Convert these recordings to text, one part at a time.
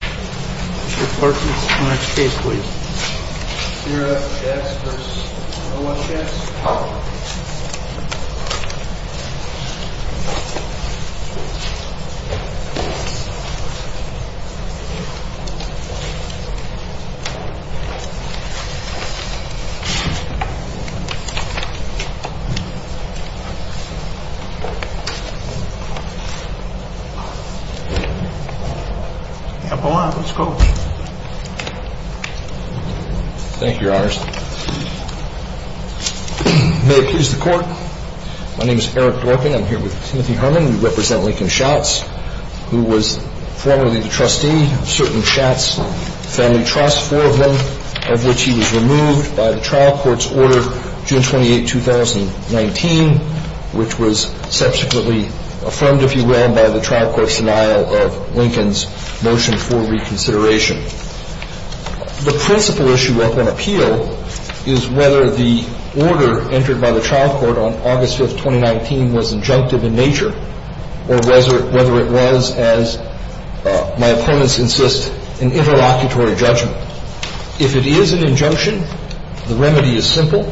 Mr. Perkins, the next case, please. Sierra X versus Noah X. The apple on it. Let's go. May it please the Court. My name is Eric Dworkin. I'm here with Timothy Herman. We represent Lincoln Schatz, who was formerly the trustee of certain Schatz family trusts, four of them, of which he was removed by the trial court's order June 28, 2019, which was subsequently affirmed, if you will, by the trial court's denial of Lincoln's motion for reconsideration. The principal issue up on appeal is whether the order entered by the trial court on August 5, 2019, was injunctive in nature or whether it was, as my opponents insist, an interlocutory judgment. If it is an injunction, the remedy is simple.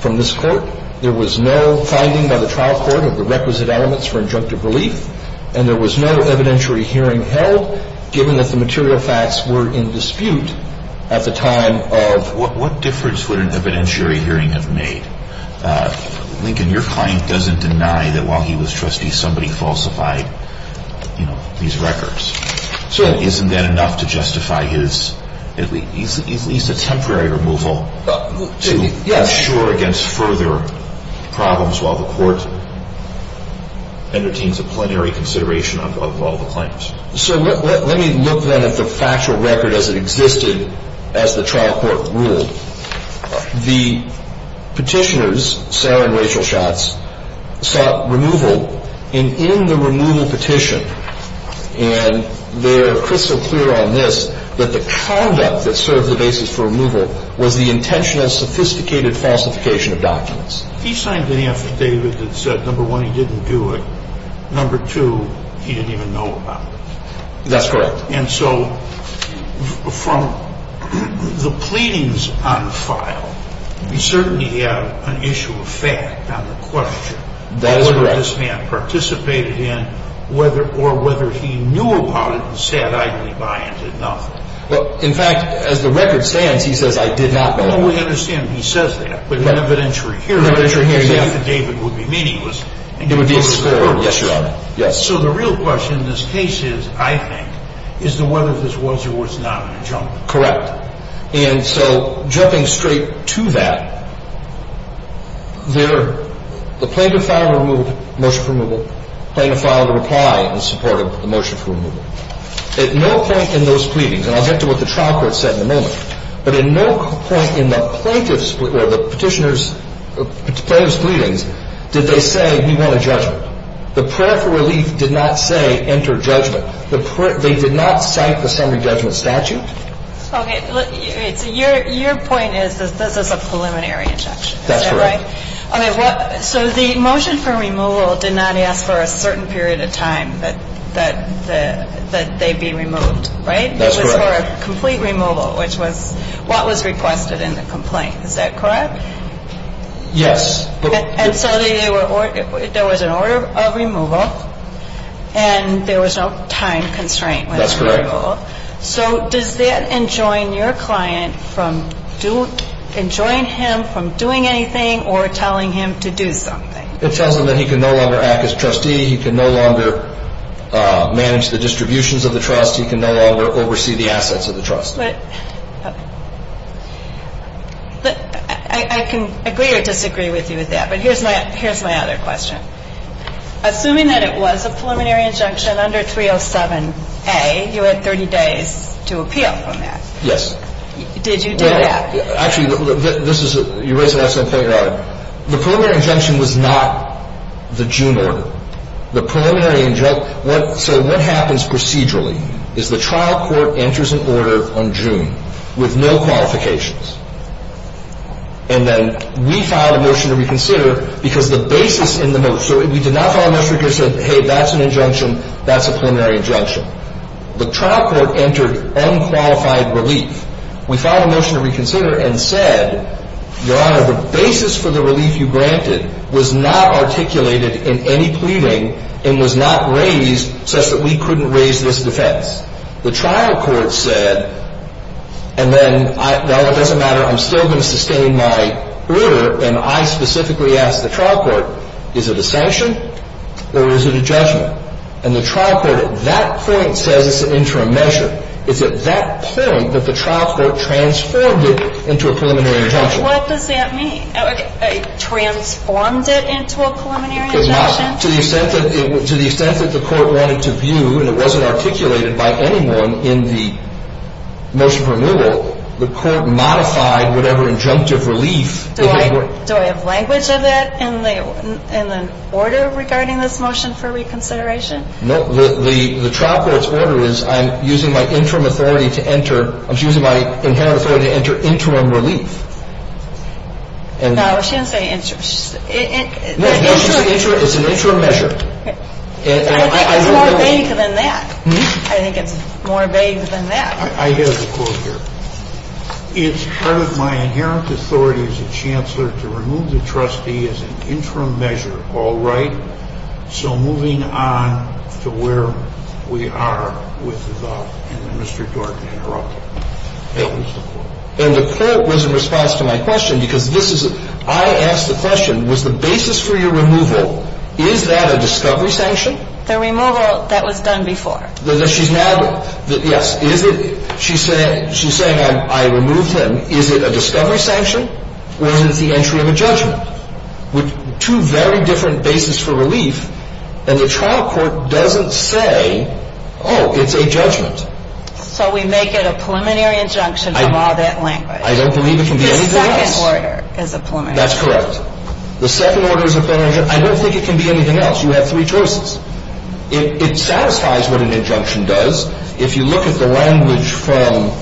From this court, there was no finding by the trial court of the requisite elements for injunctive relief, and there was no evidentiary hearing held, given that the material facts were in dispute at the time of... What difference would an evidentiary hearing have made? Lincoln, your client doesn't deny that while he was trustee, somebody falsified, you know, these records. So... Isn't that enough to justify his, at least a temporary removal... Yes. ...and assure against further problems while the court entertains a plenary consideration of all the claims? So let me look, then, at the factual record as it existed as the trial court ruled. The petitioners, Sarah and Rachel Schatz, sought removal. And in the removal petition, and they're crystal clear on this, that the conduct that served the basis for removal was the intentional, sophisticated falsification of documents. He signed an affidavit that said, number one, he didn't do it. Number two, he didn't even know about it. That's correct. And so from the pleadings on file, we certainly have an issue of fact on the question... That is correct. ...of whether this man participated in, or whether he knew about it and said, I didn't buy it, and did nothing. Well, in fact, as the record stands, he says, I did not buy it. Well, we understand he says that. But in an evidentiary hearing... In an evidentiary hearing, yes. ...the affidavit would be meaningless. It would be absurd. Yes, Your Honor. Yes. So the real question in this case is, I think, is whether this was or was not an adjunct. Correct. And so jumping straight to that, the plaintiff filed a motion for removal, plaintiff filed a reply in support of the motion for removal. At no point in those pleadings, and I'll get to what the trial court said in a moment, but at no point in the plaintiff's, or the petitioner's, plaintiff's pleadings did they say, we want a judgment. The prayer for relief did not say, enter judgment. They did not cite the summary judgment statute. Okay. Your point is that this is a preliminary injunction, is that right? That's correct. Okay. So the motion for removal did not ask for a certain period of time that they be removed, right? That's correct. It was for a complete removal, which was what was requested in the complaint. Is that correct? Yes. And so there was an order of removal, and there was no time constraint when it was removed. That's correct. So does that enjoin your client from doing, enjoin him from doing anything or telling him to do something? It tells him that he can no longer act as trustee. He can no longer manage the distributions of the trust. He can no longer oversee the assets of the trust. But I can agree or disagree with you with that, but here's my other question. Assuming that it was a preliminary injunction under 307A, you had 30 days to appeal from that. Yes. Did you do that? Actually, this is, you raised an excellent point, Your Honor. The preliminary injunction was not the June order. The preliminary injunction, so what happens procedurally is the trial court enters an order on June with no qualifications. And then we filed a motion to reconsider because the basis in the motion, so we did not file a motion to reconsider, said, hey, that's an injunction, that's a preliminary injunction. The trial court entered unqualified relief. We filed a motion to reconsider and said, Your Honor, the basis for the relief you granted was not articulated in any pleading and was not raised such that we couldn't raise this defense. The trial court said, and then, well, it doesn't matter, I'm still going to sustain my order, and I specifically asked the trial court, is it a sanction or is it a judgment? And the trial court at that point says it's an interim measure. It's at that point that the trial court transformed it into a preliminary injunction. What does that mean? Transformed it into a preliminary injunction? To the extent that the court wanted to view and it wasn't articulated by anyone in the motion for renewal, the court modified whatever injunctive relief. Do I have language of that in the order regarding this motion for reconsideration? No. The trial court's order is I'm using my interim authority to enter, I'm using my inherent authority to enter interim relief. No, she didn't say interim. No, she said interim. It's an interim measure. I think it's more vague than that. I think it's more vague than that. I have a quote here. It's part of my inherent authority as a chancellor to remove the trustee as an interim measure, all right? So moving on to where we are with the vote. And then Mr. Dorton interrupted me. And the court was in response to my question because I asked the question, was the basis for your removal, is that a discovery sanction? The removal that was done before. Yes. She's saying I removed him. Is it a discovery sanction or is it the entry of a judgment? Two very different bases for relief and the trial court doesn't say, oh, it's a judgment. So we make it a preliminary injunction from all that language. I don't believe it can be anything else. The second order is a preliminary injunction. That's correct. The second order is a preliminary injunction. I don't think it can be anything else. You have three choices. It satisfies what an injunction does. If you look at the language from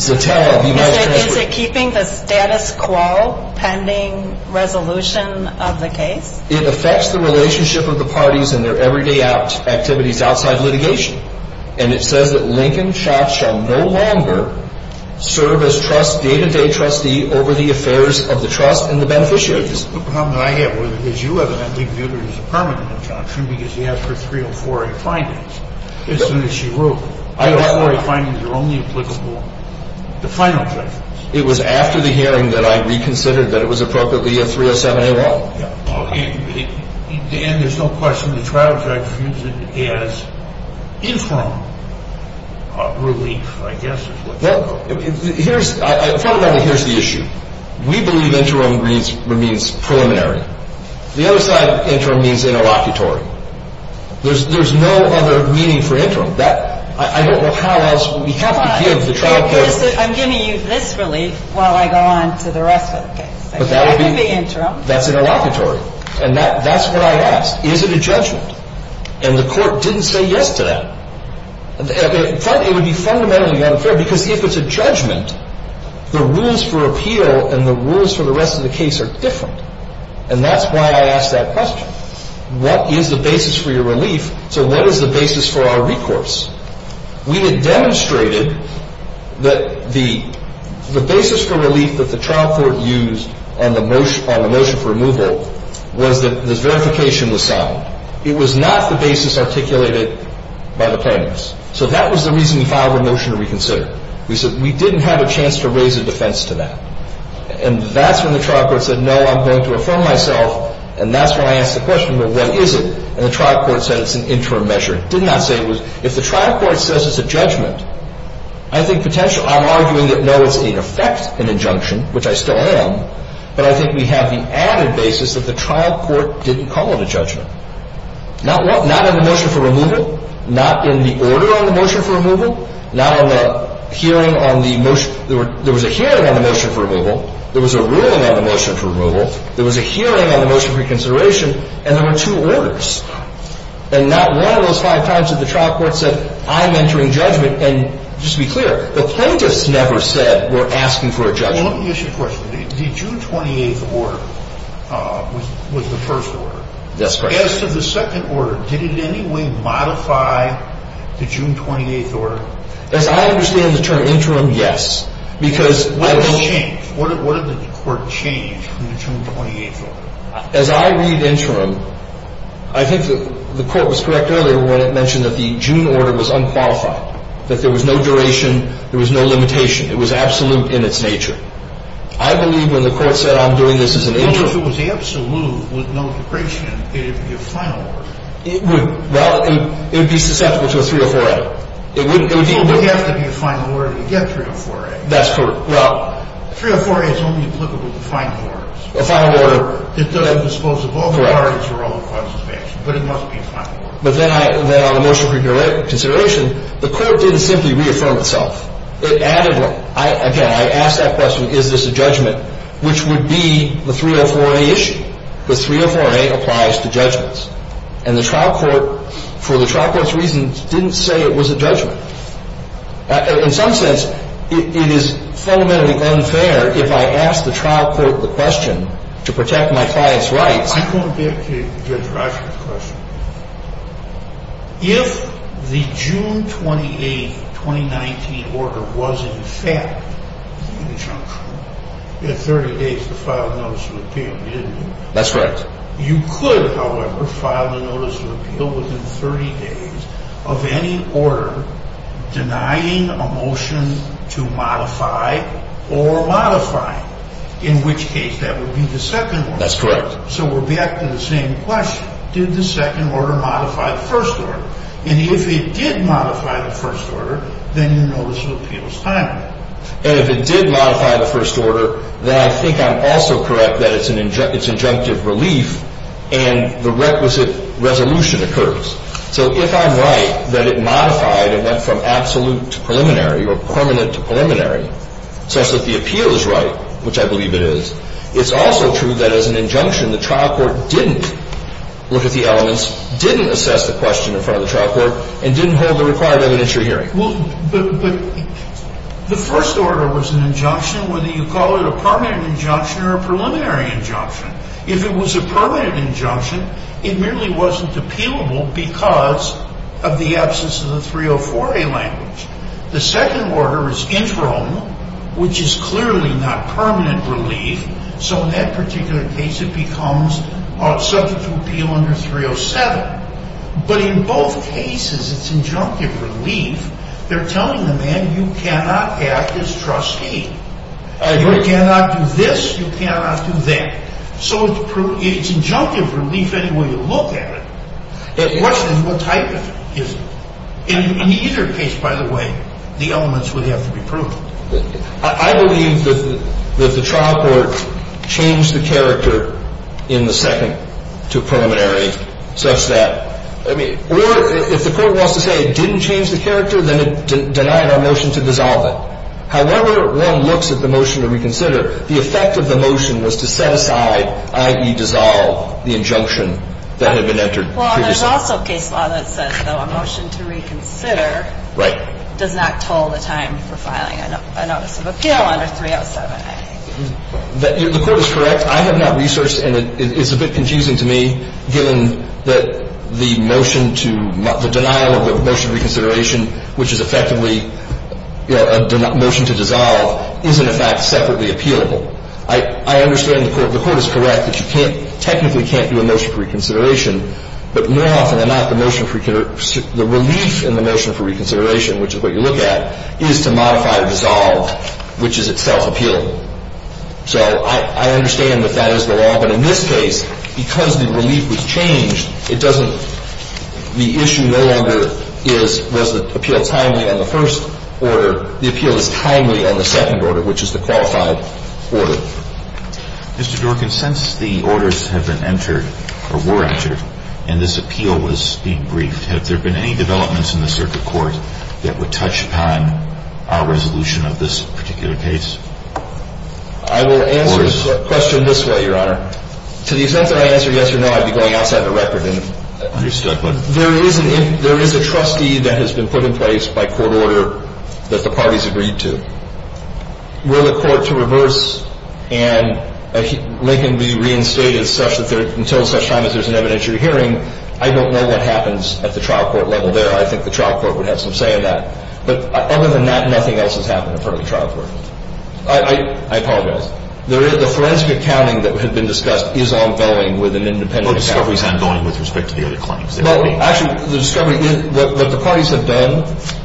Zatella of the United States. Is it keeping the status quo pending resolution of the case? It affects the relationship of the parties and their everyday activities outside litigation. And it says that Lincoln Schatz shall no longer serve as trust's day-to-day trustee over the affairs of the trust and the beneficiaries. The problem that I have is you evidently viewed it as a permanent injunction because you asked for 304A findings as soon as she wrote. The 304A findings are only applicable to final judgments. It was after the hearing that I reconsidered that it was appropriately a 307A1. Dan, there's no question. The trial judge views it as interim relief, I guess. Here's the issue. We believe interim means preliminary. The other side of interim means interlocutory. There's no other meaning for interim. I don't know how else we have to give the trial judge. I'm giving you this relief while I go on to the rest of the case. That's interlocutory. And that's what I asked. Is it a judgment? And the court didn't say yes to that. It would be fundamentally unfair because if it's a judgment, the rules for appeal and the rules for the rest of the case are different. And that's why I asked that question. What is the basis for your relief? So what is the basis for our recourse? We had demonstrated that the basis for relief that the trial court used on the motion for removal was that the verification was sound. It was not the basis articulated by the plaintiffs. So that was the reason we filed the motion to reconsider. We said we didn't have a chance to raise a defense to that. And that's when the trial court said, no, I'm going to affirm myself, and that's when I asked the question, well, what is it? And the trial court said it's an interim measure. It did not say it was. If the trial court says it's a judgment, I think potentially I'm arguing that, no, it's in effect an injunction, which I still am, but I think we have the added basis that the trial court didn't call it a judgment. Not in the motion for removal, not in the order on the motion for removal, not on the hearing on the motion. There was a hearing on the motion for removal. There was a ruling on the motion for removal. There was a hearing on the motion for reconsideration. And there were two orders. And not one of those five times did the trial court say, I'm entering judgment. And just to be clear, the plaintiffs never said we're asking for a judgment. Well, let me ask you a question. The June 28th order was the first order. That's correct. As to the second order, did it in any way modify the June 28th order? As I understand the term interim, yes. Because what did it change? What did the court change from the June 28th order? As I read interim, I think that the court was correct earlier when it mentioned that the June order was unqualified, that there was no duration, there was no limitation. It was absolute in its nature. I believe when the court said I'm doing this as an interim. Well, if it was absolute with no duration, it would be a final order. It would. Well, it would be susceptible to a 304A. It wouldn't. It would need to be. It would have to be a final order to get 304A. That's correct. Well. 304A is only applicable to final orders. A final order. It doesn't dispose of all the parties or all the functions of action. But it must be a final order. But then on the motion for consideration, the court didn't simply reaffirm itself. It added one. Again, I asked that question, is this a judgment, which would be the 304A issue. Because 304A applies to judgments. And the trial court, for the trial court's reasons, didn't say it was a judgment. In some sense, it is fundamentally unfair if I ask the trial court the question to protect my client's rights. I'm going back to Judge Rash's question. If the June 28, 2019 order was in fact an injunction, you had 30 days to file a notice of appeal, didn't you? That's right. You could, however, file a notice of appeal within 30 days of any order denying a motion to modify or modifying. In which case, that would be the second order. That's correct. So we're back to the same question. Did the second order modify the first order? And if it did modify the first order, then your notice of appeal is timely. And if it did modify the first order, then I think I'm also correct that it's injunctive relief and the requisite resolution occurs. So if I'm right that it modified and went from absolute to preliminary or permanent to preliminary, such that the appeal is right, which I believe it is, it's also true that as an injunction, the trial court didn't look at the elements, didn't assess the question in front of the trial court, and didn't hold the required evidentiary hearing. But the first order was an injunction, whether you call it a permanent injunction or a preliminary injunction. If it was a permanent injunction, it merely wasn't appealable because of the absence of the 304A language. The second order is interim, which is clearly not permanent relief. So in that particular case, it becomes subject to appeal under 307. But in both cases, it's injunctive relief. They're telling the man, you cannot act as trustee. You cannot do this. You cannot do that. So it's injunctive relief any way you look at it. The question is, what type is it? In either case, by the way, the elements would have to be proved. I believe that the trial court changed the character in the second to preliminary such that, I mean, or if the court wants to say it didn't change the character, then it denied our motion to dissolve it. However, Rome looks at the motion to reconsider, the effect of the motion was to set aside, i.e., dissolve the injunction that had been entered previously. Well, there's also case law that says, though, a motion to reconsider does not toll the time for filing. I notice of appeal under 307A. The court is correct. I have not researched, and it's a bit confusing to me, given that the motion to the denial of the motion of reconsideration, which is effectively a motion to dissolve, isn't, in fact, separately appealable. I understand the court is correct that you can't, technically can't do a motion for reconsideration. But more often than not, the motion for, the relief in the motion for reconsideration, which is what you look at, is to modify or dissolve, which is itself appealable. So I understand that that is the law. But in this case, because the relief was changed, it doesn't, the issue no longer is, was the appeal timely on the first order? The appeal is timely on the second order, which is the qualified order. Mr. Dworkin, since the orders have been entered, or were entered, and this appeal was being briefed, have there been any developments in the circuit court that would touch upon our resolution of this particular case? I will answer the question this way, Your Honor. To the extent that I answer yes or no, I'd be going outside the record. Understood. There is a trustee that has been put in place by court order that the parties agreed to. Were the court to reverse and Lincoln be reinstated until such time as there's an evidentiary hearing, I don't know what happens at the trial court level there. I think the trial court would have some say in that. But other than that, nothing else has happened in front of the trial court. I apologize. The forensic accounting that had been discussed is ongoing with an independent account. Well, discovery is ongoing with respect to the other claims. Well, actually, the discovery, what the parties have done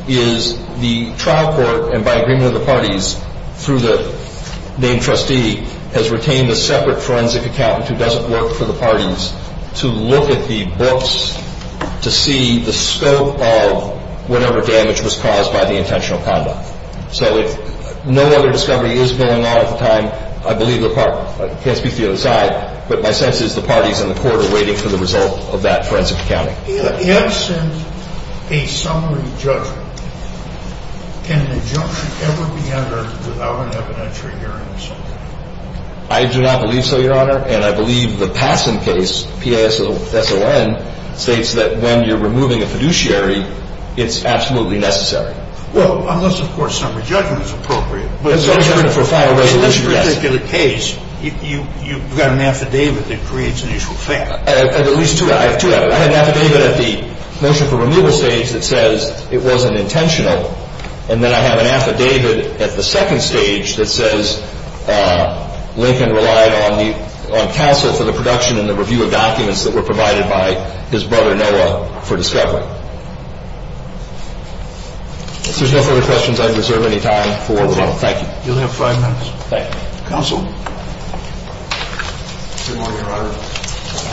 is the trial court, and by agreement of the parties through the named trustee, has retained a separate forensic accountant who doesn't work for the parties to look at the books to see the scope of whatever damage was caused by the intentional conduct. So if no other discovery is going on at the time, I believe the parties, I can't speak for the other side, but my sense is the parties in the court are waiting for the result of that forensic accounting. If sent a summary judgment, can an injunction ever be entered without an evidentiary hearing? I do not believe so, Your Honor, and I believe the Patson case, P-A-S-O-N, states that when you're removing a fiduciary, it's absolutely necessary. Well, unless, of course, summary judgment is appropriate. But in this particular case, you've got an affidavit that creates an issue of fact. I have at least two. I have two affidavits. I have an affidavit at the motion for removal stage that says it wasn't intentional, and then I have an affidavit at the second stage that says Lincoln relied on counsel for the production and the review of documents that were provided by his brother Noah for discovery. If there's no further questions, I reserve any time for rebuttal. Thank you. You'll have five minutes. Thank you. Counsel. Good morning, Your Honor.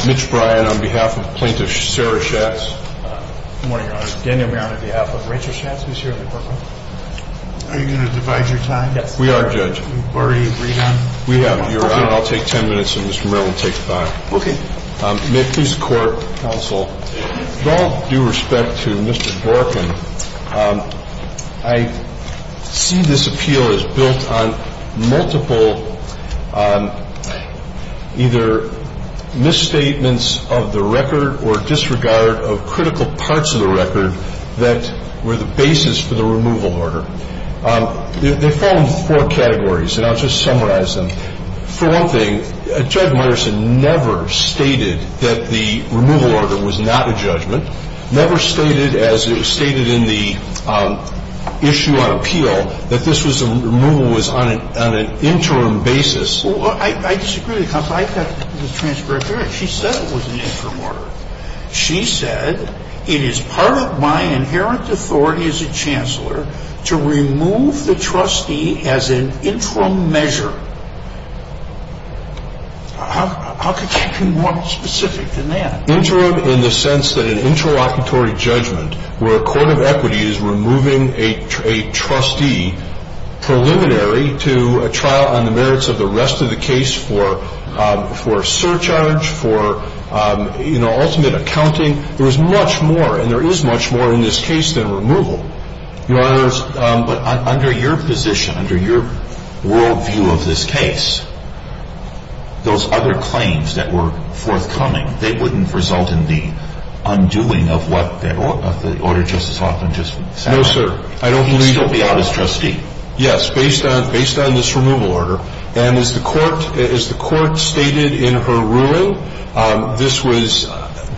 Mitch Bryan on behalf of Plaintiff Sarah Schatz. Good morning, Your Honor. Daniel Maron on behalf of Rachel Schatz, who's here in the courtroom. Are you going to divide your time? Yes. We are, Judge. You've already agreed on? We have, Your Honor. I'll take ten minutes, and Mr. Maron will take five. Okay. May it please the Court, Counsel, with all due respect to Mr. Dworkin, I see this appeal as built on multiple either misstatements of the record or disregard of critical parts of the record that were the basis for the removal order. They fall into four categories, and I'll just summarize them. For one thing, Judge Meyerson never stated that the removal order was not a judgment, never stated, as it was stated in the issue on appeal, that this removal was on an interim basis. Well, I disagree with you, Counsel. I've got the transcript here. She said it was an interim order. She said, It is part of my inherent authority as a chancellor to remove the trustee as an interim measure. How could she be more specific than that? Interim in the sense that an interlocutory judgment where a court of equity is removing a trustee preliminary to a trial on the merits of the rest of the case for surcharge, for ultimate accounting. There is much more, and there is much more in this case than removal. Your Honors, but under your position, under your world view of this case, those other claims that were forthcoming, they wouldn't result in the undoing of what the order Justice Hoffman just said? No, sir. He would still be out as trustee. Yes, based on this removal order, and as the court stated in her ruling, this was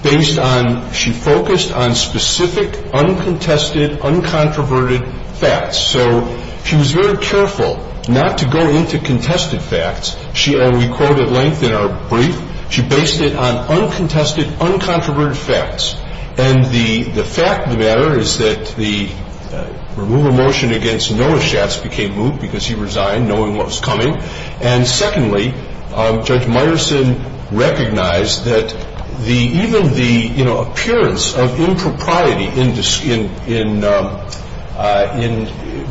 based on, she focused on specific, uncontested, uncontroverted facts. So she was very careful not to go into contested facts. She, and we quote at length in our brief, she based it on uncontested, uncontroverted facts. And the fact of the matter is that the removal motion against Noah Schatz became moot because he resigned knowing what was coming. And secondly, Judge Meyerson recognized that even the appearance of impropriety in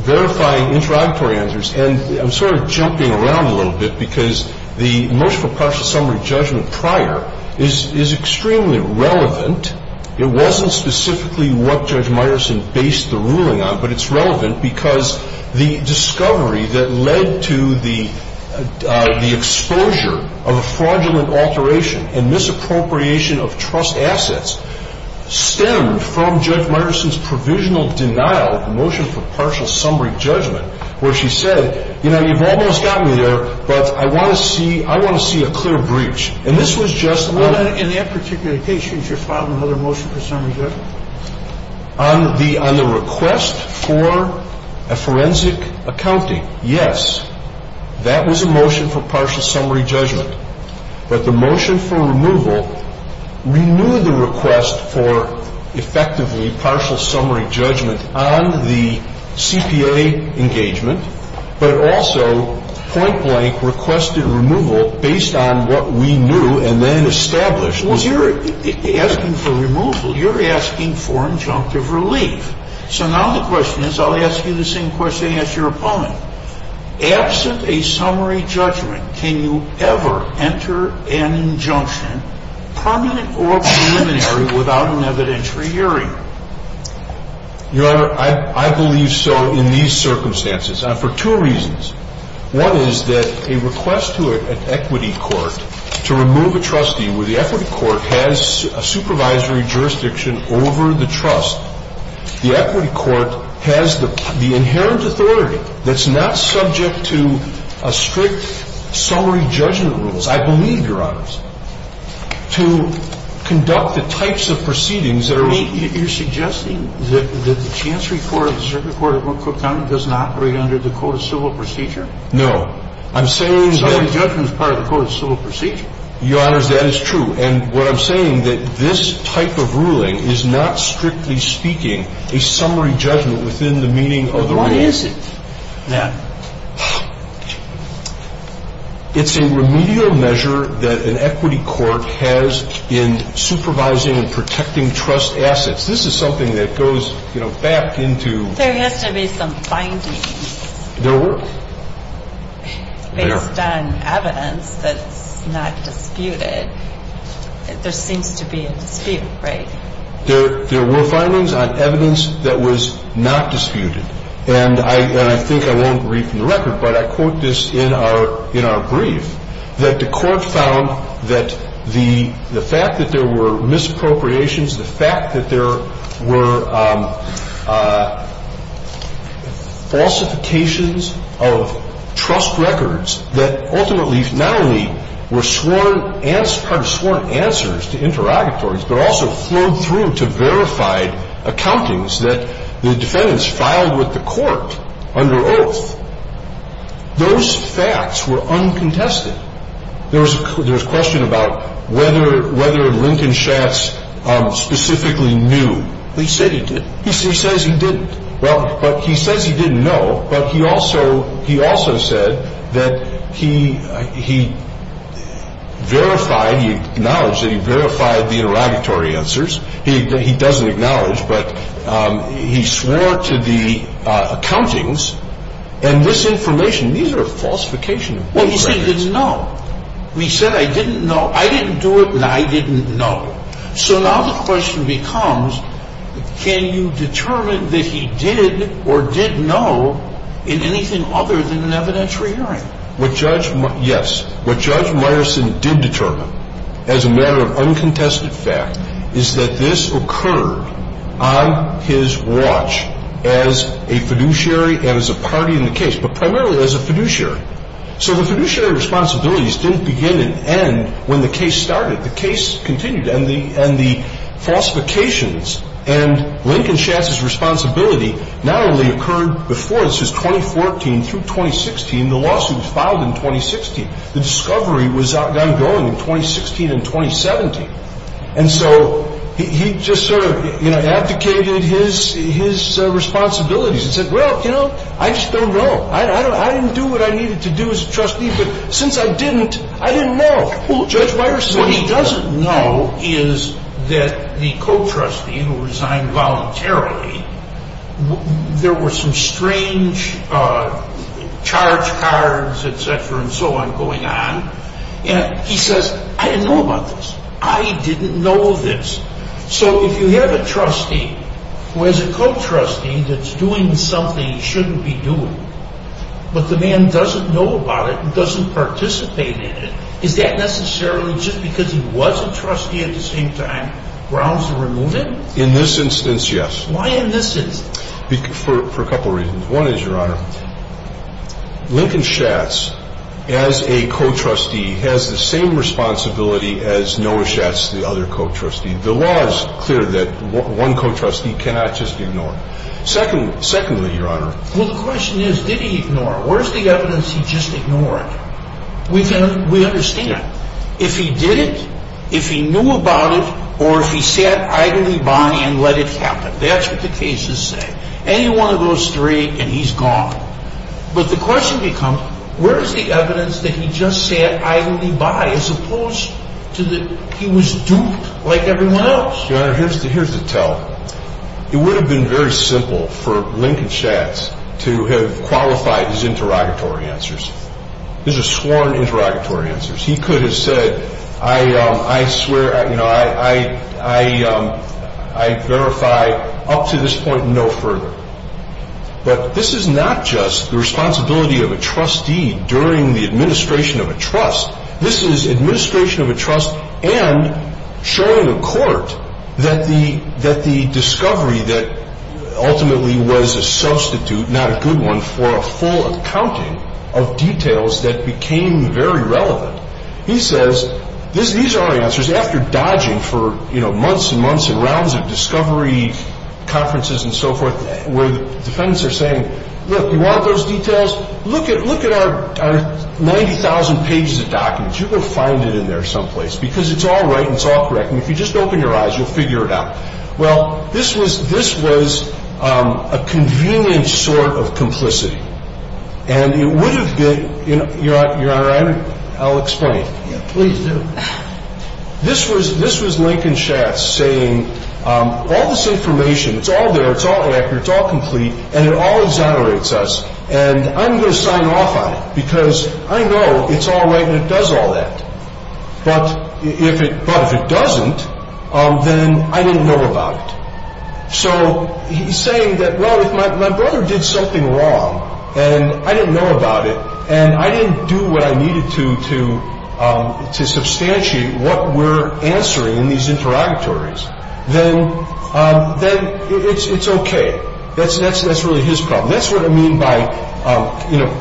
verifying interrogatory answers, and I'm sort of jumping around a little bit because the motion for partial summary judgment prior is extremely relevant. It wasn't specifically what Judge Meyerson based the ruling on, but it's relevant because the discovery that led to the exposure of a fraudulent alteration and misappropriation of trust assets stemmed from Judge Meyerson's provisional denial of the motion for partial summary judgment, where she said, you know, you've almost got me there, but I want to see a clear breach. And this was just a little bit. In that particular case, did you file another motion for summary judgment? On the request for a forensic accounting, yes. That was a motion for partial summary judgment. But the motion for removal renewed the request for effectively partial summary judgment on the CPA engagement, but also point blank requested removal based on what we knew and then established. Well, you're asking for removal. You're asking for injunctive relief. So now the question is, I'll ask you the same question as your opponent. Absent a summary judgment, can you ever enter an injunction permanent or preliminary without an evidentiary hearing? Your Honor, I believe so in these circumstances for two reasons. One is that a request to an equity court to remove a trustee where the equity court has a supervisory jurisdiction over the trust, the equity court has the inherent authority that's not subject to a strict summary judgment rules. I believe, Your Honor, to conduct the types of proceedings that are. You're suggesting that the chancery court, the circuit court of Montgomery County doesn't operate under the Code of Civil Procedure? No. I'm saying that. Summary judgment is part of the Code of Civil Procedure. Your Honor, that is true. And what I'm saying that this type of ruling is not strictly speaking a summary judgment within the meaning of the rules. What is it then? It's a remedial measure that an equity court has in supervising and protecting trust assets. This is something that goes, you know, back into. There has to be some findings. There were. Based on evidence that's not disputed. There seems to be a dispute, right? There were findings on evidence that was not disputed. And I think I won't read from the record, but I quote this in our brief, that the court found that the fact that there were misappropriations, the fact that there were falsifications of trust records that ultimately not only were sworn answers to interrogatories, but also flowed through to verified accountings that the defendants filed with the court under oath. Those facts were uncontested. There was a question about whether Lincoln Schatz specifically knew. He said he didn't. He says he didn't. No, but he also he also said that he he verified knowledge that he verified the interrogatory answers. He doesn't acknowledge, but he swore to the accountings. And this information, these are falsification. Well, he said he didn't know. We said I didn't know. I didn't do it. And I didn't know. So now the question becomes, can you determine that he did or didn't know in anything other than an evidentiary hearing? Yes. What Judge Meyerson did determine as a matter of uncontested fact is that this occurred on his watch as a fiduciary and as a party in the case, but primarily as a fiduciary. So the fiduciary responsibilities didn't begin and end when the case started. The case continued. And the falsifications and Lincoln Schatz's responsibility not only occurred before, this is 2014 through 2016. The lawsuit was filed in 2016. The discovery was ongoing in 2016 and 2017. And so he just sort of abdicated his responsibilities and said, well, you know, I just don't know. I didn't do what I needed to do as a trustee. But since I didn't, I didn't know. Well, Judge Meyerson, what he doesn't know is that the co-trustee who resigned voluntarily, there were some strange charge cards, et cetera, and so on going on. And he says, I didn't know about this. I didn't know this. So if you have a trustee who has a co-trustee that's doing something he shouldn't be doing, but the man doesn't know about it and doesn't participate in it, is that necessarily just because he was a trustee at the same time grounds to remove him? In this instance, yes. Why in this instance? For a couple of reasons. One is, Your Honor, Lincoln Schatz, as a co-trustee, has the same responsibility as Noah Schatz, the other co-trustee. The law is clear that one co-trustee cannot just ignore. Secondly, Your Honor. Well, the question is, did he ignore? Where's the evidence he just ignored? We understand that. If he didn't, if he knew about it, or if he sat idly by and let it happen. That's what the cases say. Any one of those three and he's gone. But the question becomes, where's the evidence that he just sat idly by as opposed to that he was duped like everyone else? Your Honor, here's the tell. It would have been very simple for Lincoln Schatz to have qualified his interrogatory answers. These are sworn interrogatory answers. He could have said, I swear, you know, I verify up to this point and no further. But this is not just the responsibility of a trustee during the administration of a trust. This is administration of a trust and showing the court that the discovery that ultimately was a substitute, not a good one, for a full accounting of details that became very relevant. He says, these are our answers. After dodging for, you know, months and months and rounds of discovery conferences and so forth, where the defendants are saying, look, you want those details? Look at our 90,000 pages of documents. You're going to find it in there someplace because it's all right and it's all correct. And if you just open your eyes, you'll figure it out. Well, this was a convenient sort of complicity. And it would have been, Your Honor, I'll explain. Please do. This was Lincoln Schatz saying, all this information, it's all there, it's all accurate, it's all complete, and it all exonerates us. And I'm going to sign off on it because I know it's all right and it does all that. But if it doesn't, then I didn't know about it. So he's saying that, well, if my brother did something wrong and I didn't know about it and I didn't do what I needed to to substantiate what we're answering in these interrogatories, then it's okay. That's really his problem. That's what I mean by, you know,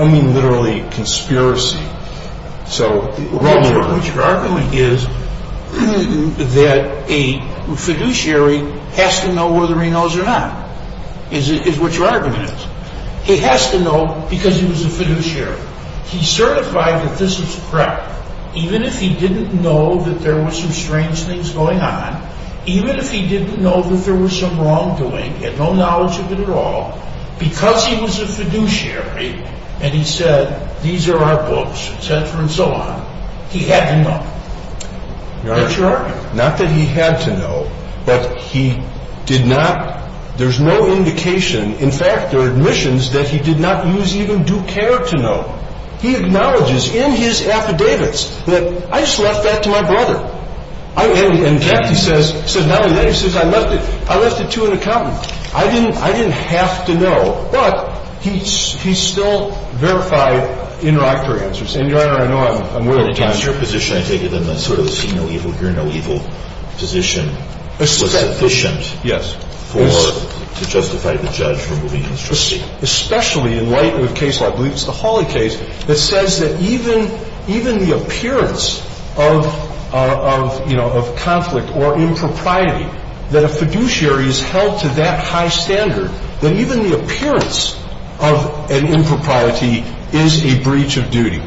I mean literally conspiracy. So what you're arguing is that a fiduciary has to know whether he knows or not is what your argument is. He has to know because he was a fiduciary. He certified that this was correct. Even if he didn't know that there were some strange things going on, even if he didn't know that there was some wrongdoing, he had no knowledge of it at all, because he was a fiduciary and he said, these are our books, et cetera and so on, he had to know. That's your argument. Your Honor, not that he had to know, but he did not, there's no indication. In fact, there are admissions that he did not use even due care to know. He acknowledges in his affidavits that I just left that to my brother. And in fact, he says, not only that, he says I left it to an accountant. I didn't have to know. But he still verified interrogatory answers. And, Your Honor, I know I'm running out of time. But in terms of your position, I take it in the sort of see no evil, hear no evil position was sufficient. Yes. To justify the judge removing his trustee. Especially in light of a case, I believe it's the Hawley case, that says that even the appearance of, you know, of conflict or impropriety, that a fiduciary is held to that high standard, that even the appearance of an impropriety is a breach of duty.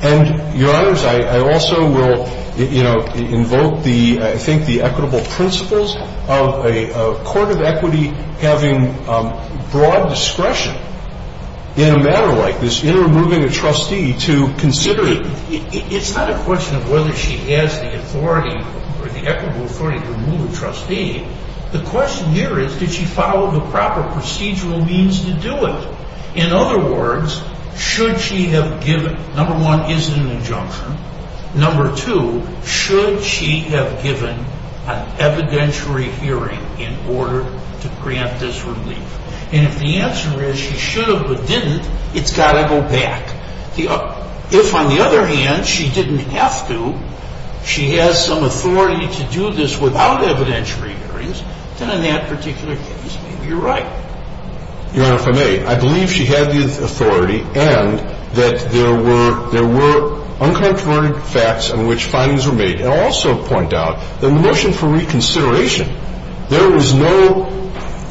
And, Your Honors, I also will, you know, invoke the, I think the equitable principles of a court of equity having broad discretion in a matter like this, in removing a trustee, to consider it. It's not a question of whether she has the authority or the equitable authority to remove a trustee. The question here is, did she follow the proper procedural means to do it? In other words, should she have given, number one, is it an injunction? Number two, should she have given an evidentiary hearing in order to grant this relief? And if the answer is she should have but didn't, it's got to go back. If, on the other hand, she didn't have to, she has some authority to do this without evidentiary hearings, then in that particular case, maybe you're right. Your Honor, if I may, I believe she had the authority and that there were, there were uncontroverted facts on which findings were made. And I'll also point out that in the motion for reconsideration, there was no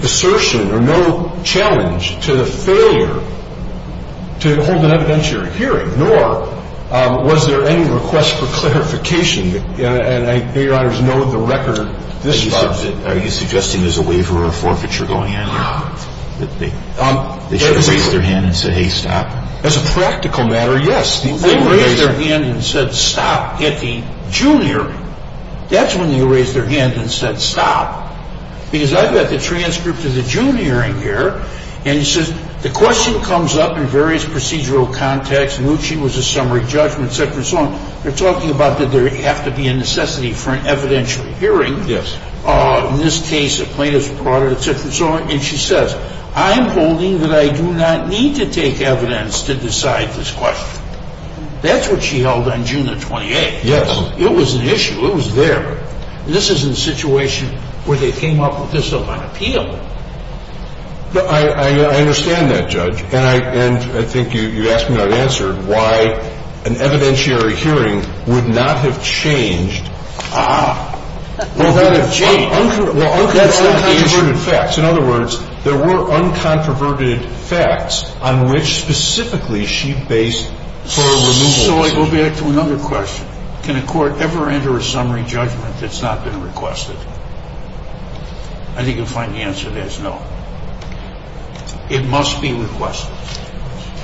assertion or no challenge to the failure to hold an evidentiary hearing, nor was there any request for clarification. And I know Your Honors know the record. The question is, should she have given an evidentiary hearing in order to grant this relief? In this case, the plaintiffs brought it, et cetera, et cetera. And she says, I'm holding that I do not need to take evidence to decide this question. That's what she held on June the 28th. Yes. It was an issue. It was there. This is in a situation where they came up with this on appeal. I understand that, Judge. And I think you asked me, not answered, why an evidentiary hearing would not have changed. Ah. It would have changed. Well, uncontroverted facts. In other words, there were uncontroverted facts on which specifically she based her removal decision. So I go back to another question. Can a court ever enter a summary judgment that's not been requested? I think you'll find the answer there is no. It must be requested.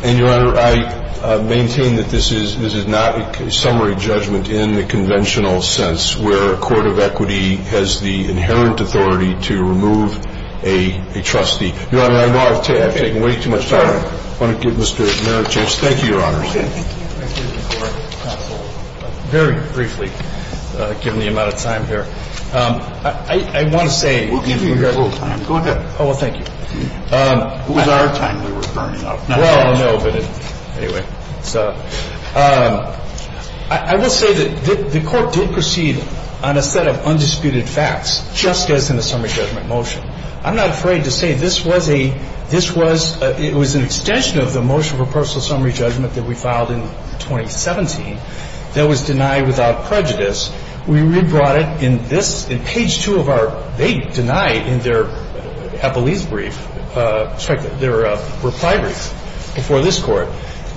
And, Your Honor, I maintain that this is not a summary judgment in the conventional sense, where a court of equity has the inherent authority to remove a trustee. Your Honor, I know I've taken way too much time. I want to give Mr. Merritt a chance. Thank you, Your Honor. Thank you, Your Honor. Very briefly, given the amount of time here, I want to say. We'll give you a little time. Go ahead. Oh, well, thank you. It was our time we were burning up. Well, no, but anyway. So I will say that the Court did proceed on a set of undisputed facts, just as in the summary judgment motion. I'm not afraid to say this was a – this was – it was an extension of the motion for personal summary judgment that we filed in 2017 that was denied without prejudice. We re-brought it in this – in page 2 of our – they denied in their Eppley's brief – sorry, their reply brief before this Court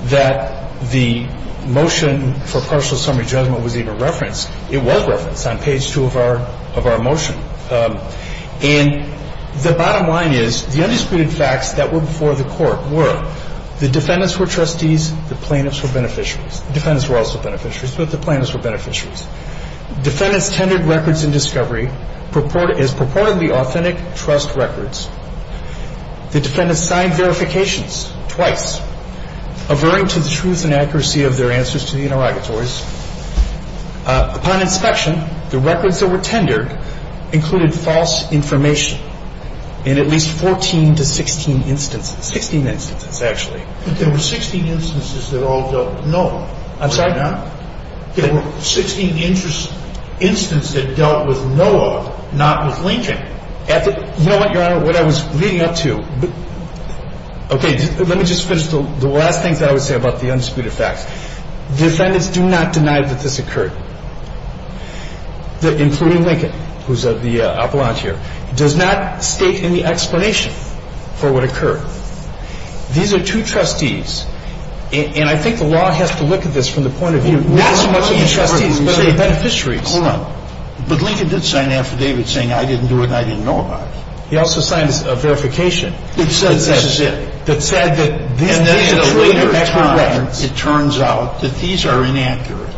that the motion for personal summary judgment was even referenced. It was referenced on page 2 of our motion. And the bottom line is the undisputed facts that were before the Court were the defendants were trustees, the plaintiffs were beneficiaries. The defendants were also beneficiaries. Both the plaintiffs were beneficiaries. Defendants tendered records in discovery as purportedly authentic trust records. The defendants signed verifications twice, averring to the truth and accuracy of their answers to the interrogatories. Upon inspection, the records that were tendered included false information in at least 14 to 16 instances. 16 instances, actually. But there were 16 instances that all dealt with Noah. I'm sorry? There were 16 instances that dealt with Noah, not with Lincoln. You know what, Your Honor? What I was leading up to – okay, let me just finish the last thing that I would say about the undisputed facts. Defendants do not deny that this occurred, including Lincoln, who's the appellant here. He does not state any explanation for what occurred. These are two trustees, and I think the law has to look at this from the point of view, not so much of the trustees, but of the beneficiaries. Hold on. But Lincoln did sign an affidavit saying, I didn't do it and I didn't know about it. He also signed a verification. That said this is it. That said that these are accurate records. And then at a later time, it turns out that these are inaccurate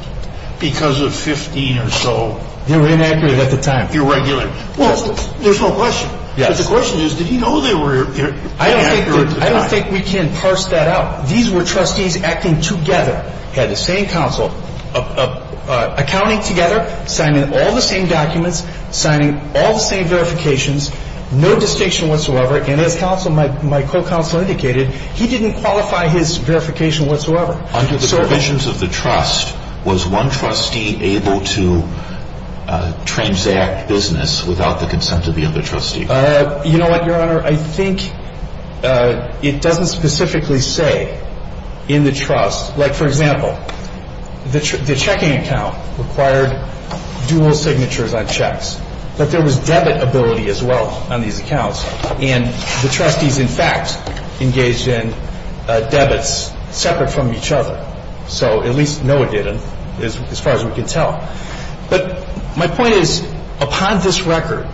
because of 15 or so – They were inaccurate at the time. Irregular. Well, there's no question. Yes. But the question is, did he know they were inaccurate at the time? I don't think we can parse that out. These were trustees acting together, had the same counsel, accounting together, signing all the same documents, signing all the same verifications, no distinction whatsoever. And as counsel, my co-counsel indicated, he didn't qualify his verification whatsoever. Under the provisions of the trust, was one trustee able to transact business without the consent of the other trustee? You know what, Your Honor? I think it doesn't specifically say in the trust. Like, for example, the checking account required dual signatures on checks. But there was debit ability as well on these accounts. And the trustees, in fact, engaged in debits separate from each other. So at least Noah didn't, as far as we can tell. But my point is, upon this record,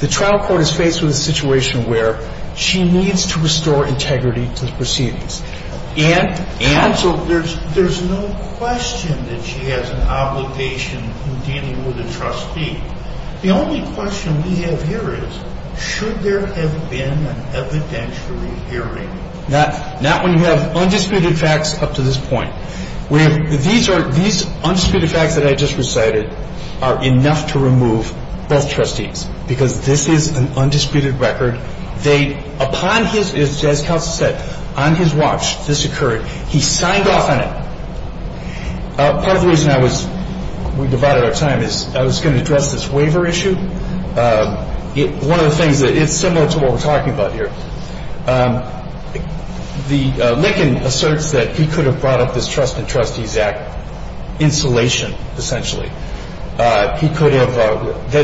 the trial court is faced with a situation where she needs to restore integrity to the proceedings. Counsel, there's no question that she has an obligation in dealing with a trustee. The only question we have here is, should there have been an evidentiary hearing? Not when you have undisputed facts up to this point. These undisputed facts that I just recited are enough to remove both trustees. Because this is an undisputed record. Upon his, as counsel said, on his watch, this occurred. He signed off on it. Part of the reason we divided our time is I was going to address this waiver issue. One of the things that is similar to what we're talking about here, the Lickin asserts that he could have brought up this Trust in Trustees Act insulation, essentially. He could have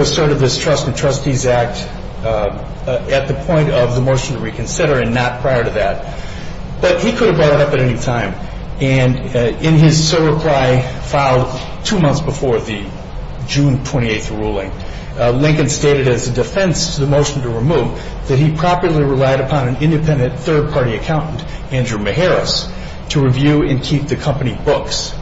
asserted this Trust in Trustees Act at the point of the motion to reconsider and not prior to that. But he could have brought it up at any time. And in his sole reply filed two months before the June 28th ruling, Lickin stated as a defense to the motion to remove that he properly relied upon an independent third-party accountant, Andrew Meharis, to review and keep the company books.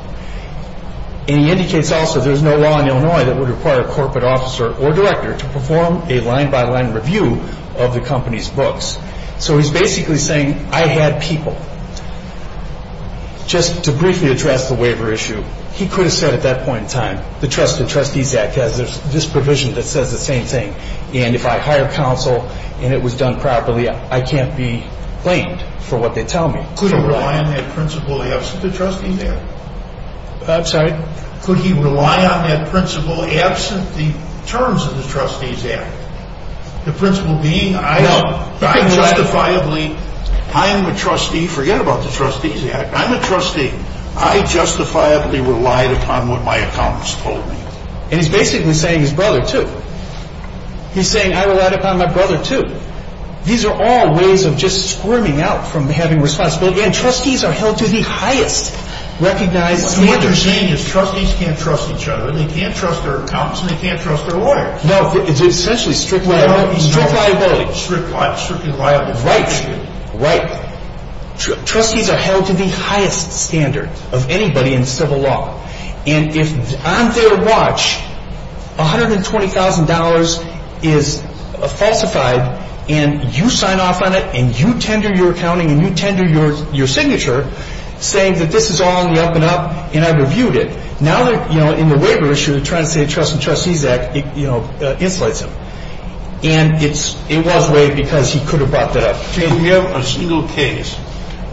And he indicates also there's no law in Illinois that would require a corporate officer or director to perform a line-by-line review of the company's books. So he's basically saying I had people. Just to briefly address the waiver issue, he could have said at that point in time, the Trust in Trustees Act has this provision that says the same thing. And if I hire counsel and it was done properly, I can't be blamed for what they tell me. Could he rely on that principle absent the Trustees Act? I'm sorry? Could he rely on that principle absent the terms of the Trustees Act? The principle being I justifiably, I am a trustee. Forget about the Trustees Act. I'm a trustee. I justifiably relied upon what my accountants told me. And he's basically saying his brother, too. He's saying I relied upon my brother, too. These are all ways of just squirming out from having responsibility. And trustees are held to the highest recognized standards. What they're saying is trustees can't trust each other, and they can't trust their accountants, and they can't trust their lawyers. No, it's essentially strict liability. Strict liability. Strictly liable. Right. Right. Trustees are held to the highest standard of anybody in civil law. And if on their watch $120,000 is falsified and you sign off on it and you tender your accounting and you tender your signature, saying that this is all on the up and up and I reviewed it, now they're, you know, in the waiver issue they're trying to say the Trust and Trustees Act, you know, insulates them. And it was waived because he could have brought that up. Do you have a single case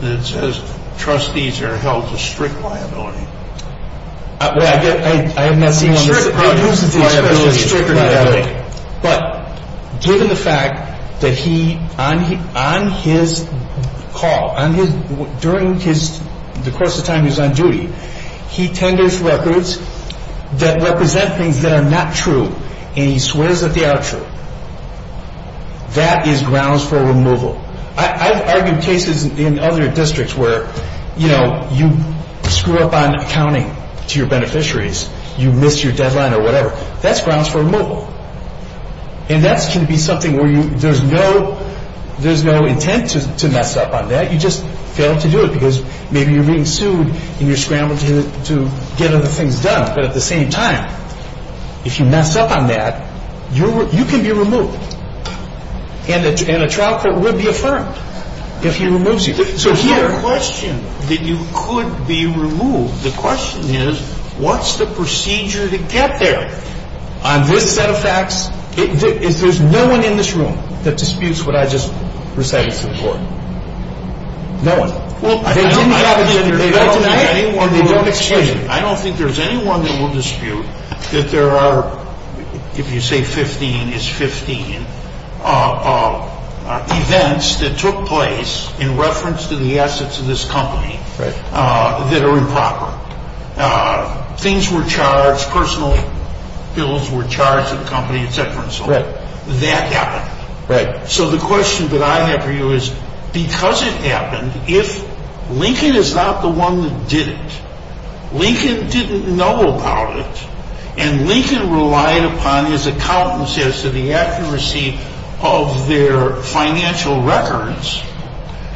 that says trustees are held to strict liability? Well, I have not seen one that uses the expression strict liability. But given the fact that he, on his call, during the course of time he was on duty, he tenders records that represent things that are not true, and he swears that they are true. That is grounds for removal. I've argued cases in other districts where, you know, you screw up on accounting to your beneficiaries. You missed your deadline or whatever. That's grounds for removal. And that can be something where there's no intent to mess up on that. You just fail to do it because maybe you're being sued and you're scrambled to get other things done. But at the same time, if you mess up on that, you can be removed. And a trial court would be affirmed if he removes you. So here the question that you could be removed, the question is what's the procedure to get there? On this set of facts, there's no one in this room that disputes what I just recited to the court. No one. I don't think there's anyone that will dispute that there are, if you say 15 is 15, events that took place in reference to the assets of this company that are improper. Things were charged. Personal bills were charged to the company, et cetera, et cetera. That happened. So the question that I have for you is because it happened, if Lincoln is not the one that did it, Lincoln didn't know about it, and Lincoln relied upon his accountants as to the accuracy of their financial records,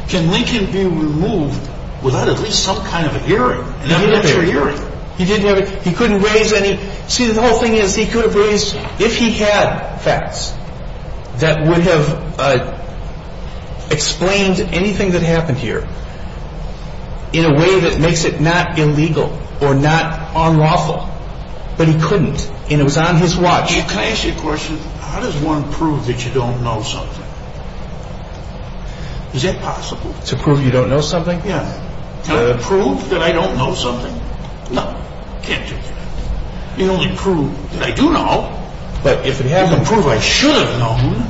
can Lincoln be removed without at least some kind of a hearing? He didn't have a hearing. He couldn't raise any. See, the whole thing is he could have raised if he had facts that would have explained anything that happened here in a way that makes it not illegal or not unlawful. But he couldn't, and it was on his watch. Chief, can I ask you a question? How does one prove that you don't know something? Is that possible? To prove you don't know something? Yeah. Can I prove that I don't know something? No. Can't do that. You only prove that I do know. But if it happened to prove I should have known.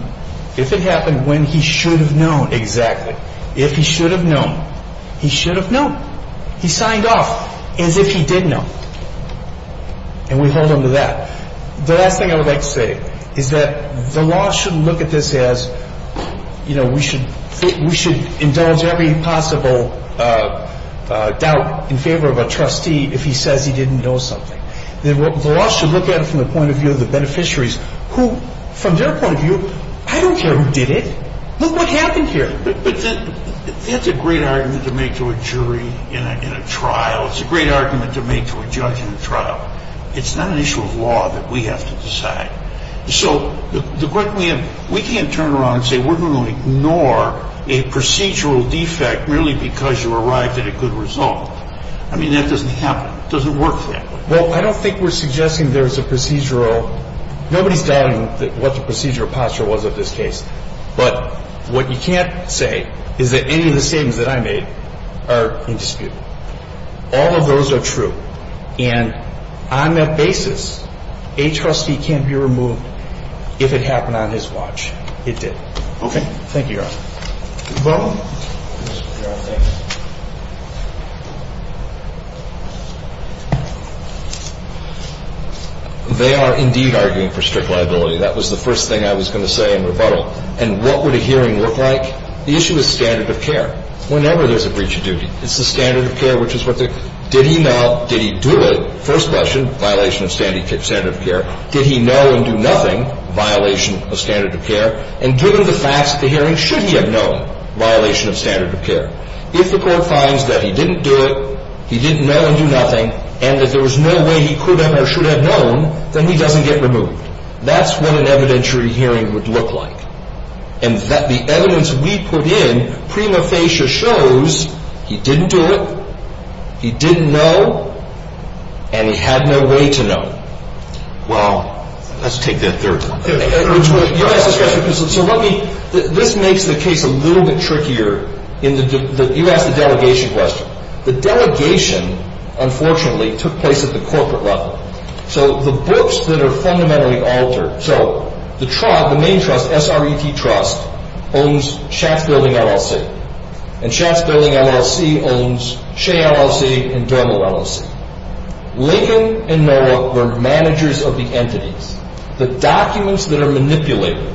If it happened when he should have known. Exactly. If he should have known, he should have known. He signed off as if he did know, and we hold him to that. The last thing I would like to say is that the law shouldn't look at this as, you know, we should indulge every possible doubt in favor of a trustee if he says he didn't know something. The law should look at it from the point of view of the beneficiaries who, from their point of view, I don't care who did it. Look what happened here. But that's a great argument to make to a jury in a trial. It's a great argument to make to a judge in a trial. It's not an issue of law that we have to decide. So the question we have, we can't turn around and say we're going to ignore a procedural defect merely because you arrived at a good result. I mean, that doesn't happen. It doesn't work that way. Well, I don't think we're suggesting there's a procedural. Nobody's doubting what the procedural posture was of this case. But what you can't say is that any of the statements that I made are in dispute. All of those are true. And on that basis, a trustee can't be removed if it happened on his watch. It did. Thank you, Your Honor. You're welcome. They are indeed arguing for strict liability. That was the first thing I was going to say in rebuttal. And what would a hearing look like? The issue is standard of care whenever there's a breach of duty. It's the standard of care, which is what the – did he know, did he do it, first question, violation of standard of care. Did he know and do nothing, violation of standard of care. And given the facts of the hearing, should he have known, violation of standard of care. If the court finds that he didn't do it, he didn't know and do nothing, and that there was no way he could have or should have known, then he doesn't get removed. That's what an evidentiary hearing would look like. And the evidence we put in, prima facie, shows he didn't do it, he didn't know, and he had no way to know. Well, let's take that third question. So let me – this makes the case a little bit trickier. You asked the delegation question. The delegation, unfortunately, took place at the corporate level. So the books that are fundamentally altered – So the main trust, SRET Trust, owns Schatz Building, LLC. And Schatz Building, LLC owns Shea, LLC and Dermot, LLC. Lincoln and NOAA were managers of the entities. The documents that are manipulated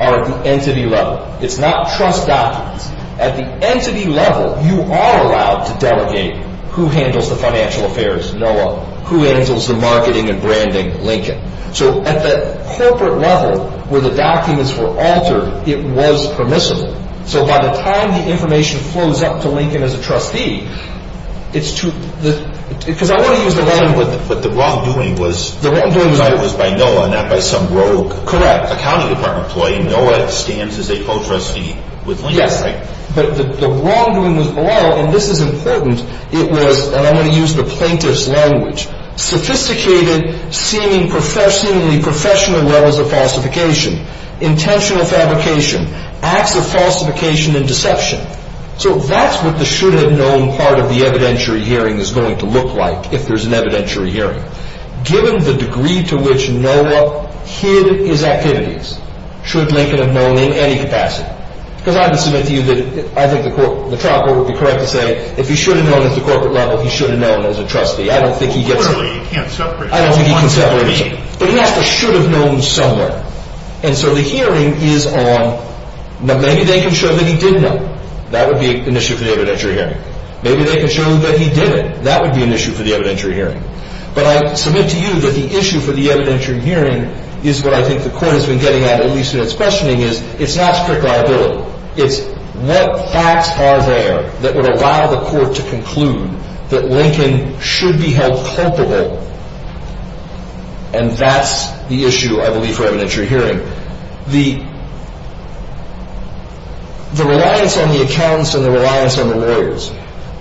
are at the entity level. It's not trust documents. At the entity level, you are allowed to delegate who handles the financial affairs, NOAA, who handles the marketing and branding, Lincoln. So at the corporate level, where the documents were altered, it was permissible. So by the time the information flows up to Lincoln as a trustee, it's too – because I want to use the wrong – But the wrongdoing was – The wrongdoing was – It was by NOAA, not by some rogue accounting department employee. NOAA stands as a co-trustee with Lincoln, right? Yes, but the wrongdoing was below, and this is important. It was – and I'm going to use the plaintiff's language. Sophisticated, seemingly professional levels of falsification, intentional fabrication, acts of falsification and deception. So that's what the should-have-known part of the evidentiary hearing is going to look like, if there's an evidentiary hearing. Given the degree to which NOAA hid his activities, should Lincoln have known in any capacity? Because I can submit to you that I think the trial court would be correct to say, if he should have known at the corporate level, he should have known as a trustee. I don't think he gets – Clearly, you can't separate – I don't think he can separate – One from the other. But he has to – should have known somewhere. And so the hearing is on – maybe they can show that he did know. That would be an issue for the evidentiary hearing. Maybe they can show that he didn't. That would be an issue for the evidentiary hearing. But I submit to you that the issue for the evidentiary hearing is what I think the court has been getting at, at least in its questioning, is it's not strict liability. It's what facts are there that would allow the court to conclude that Lincoln should be held culpable? And that's the issue, I believe, for evidentiary hearing. The reliance on the accountants and the reliance on the lawyers.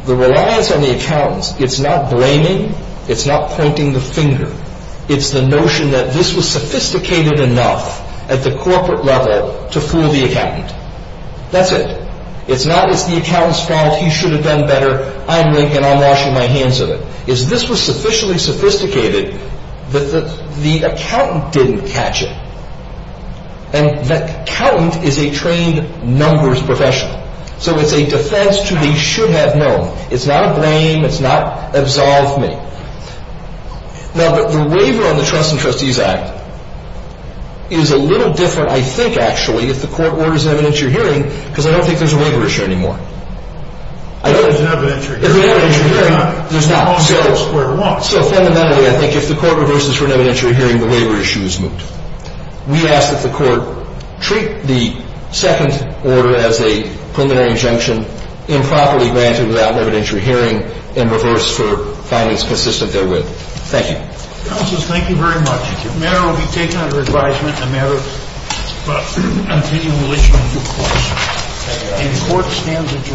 The reliance on the accountants, it's not blaming. It's not pointing the finger. It's the notion that this was sophisticated enough at the corporate level to fool the accountant. That's it. It's not it's the accountant's fault, he should have done better, I'm Lincoln, I'm washing my hands of it. It's this was sufficiently sophisticated that the accountant didn't catch it. And the accountant is a trained numbers professional. So it's a defense to the should have known. It's not a blame. It's not absolve me. Now, but the waiver on the Trusts and Trustees Act is a little different, I think, actually, if the court orders an evidentiary hearing because I don't think there's a waiver issue anymore. I don't. If there's an evidentiary hearing, there's not. There's not. So fundamentally, I think if the court reverses for an evidentiary hearing, the waiver issue is moot. We ask that the court treat the second order as a preliminary injunction improperly granted without an evidentiary hearing and reverse for findings consistent therewith. Thank you. Counselors, thank you very much. The matter will be taken under advisement in a matter of continuing relation to the court. And the court stands adjourned.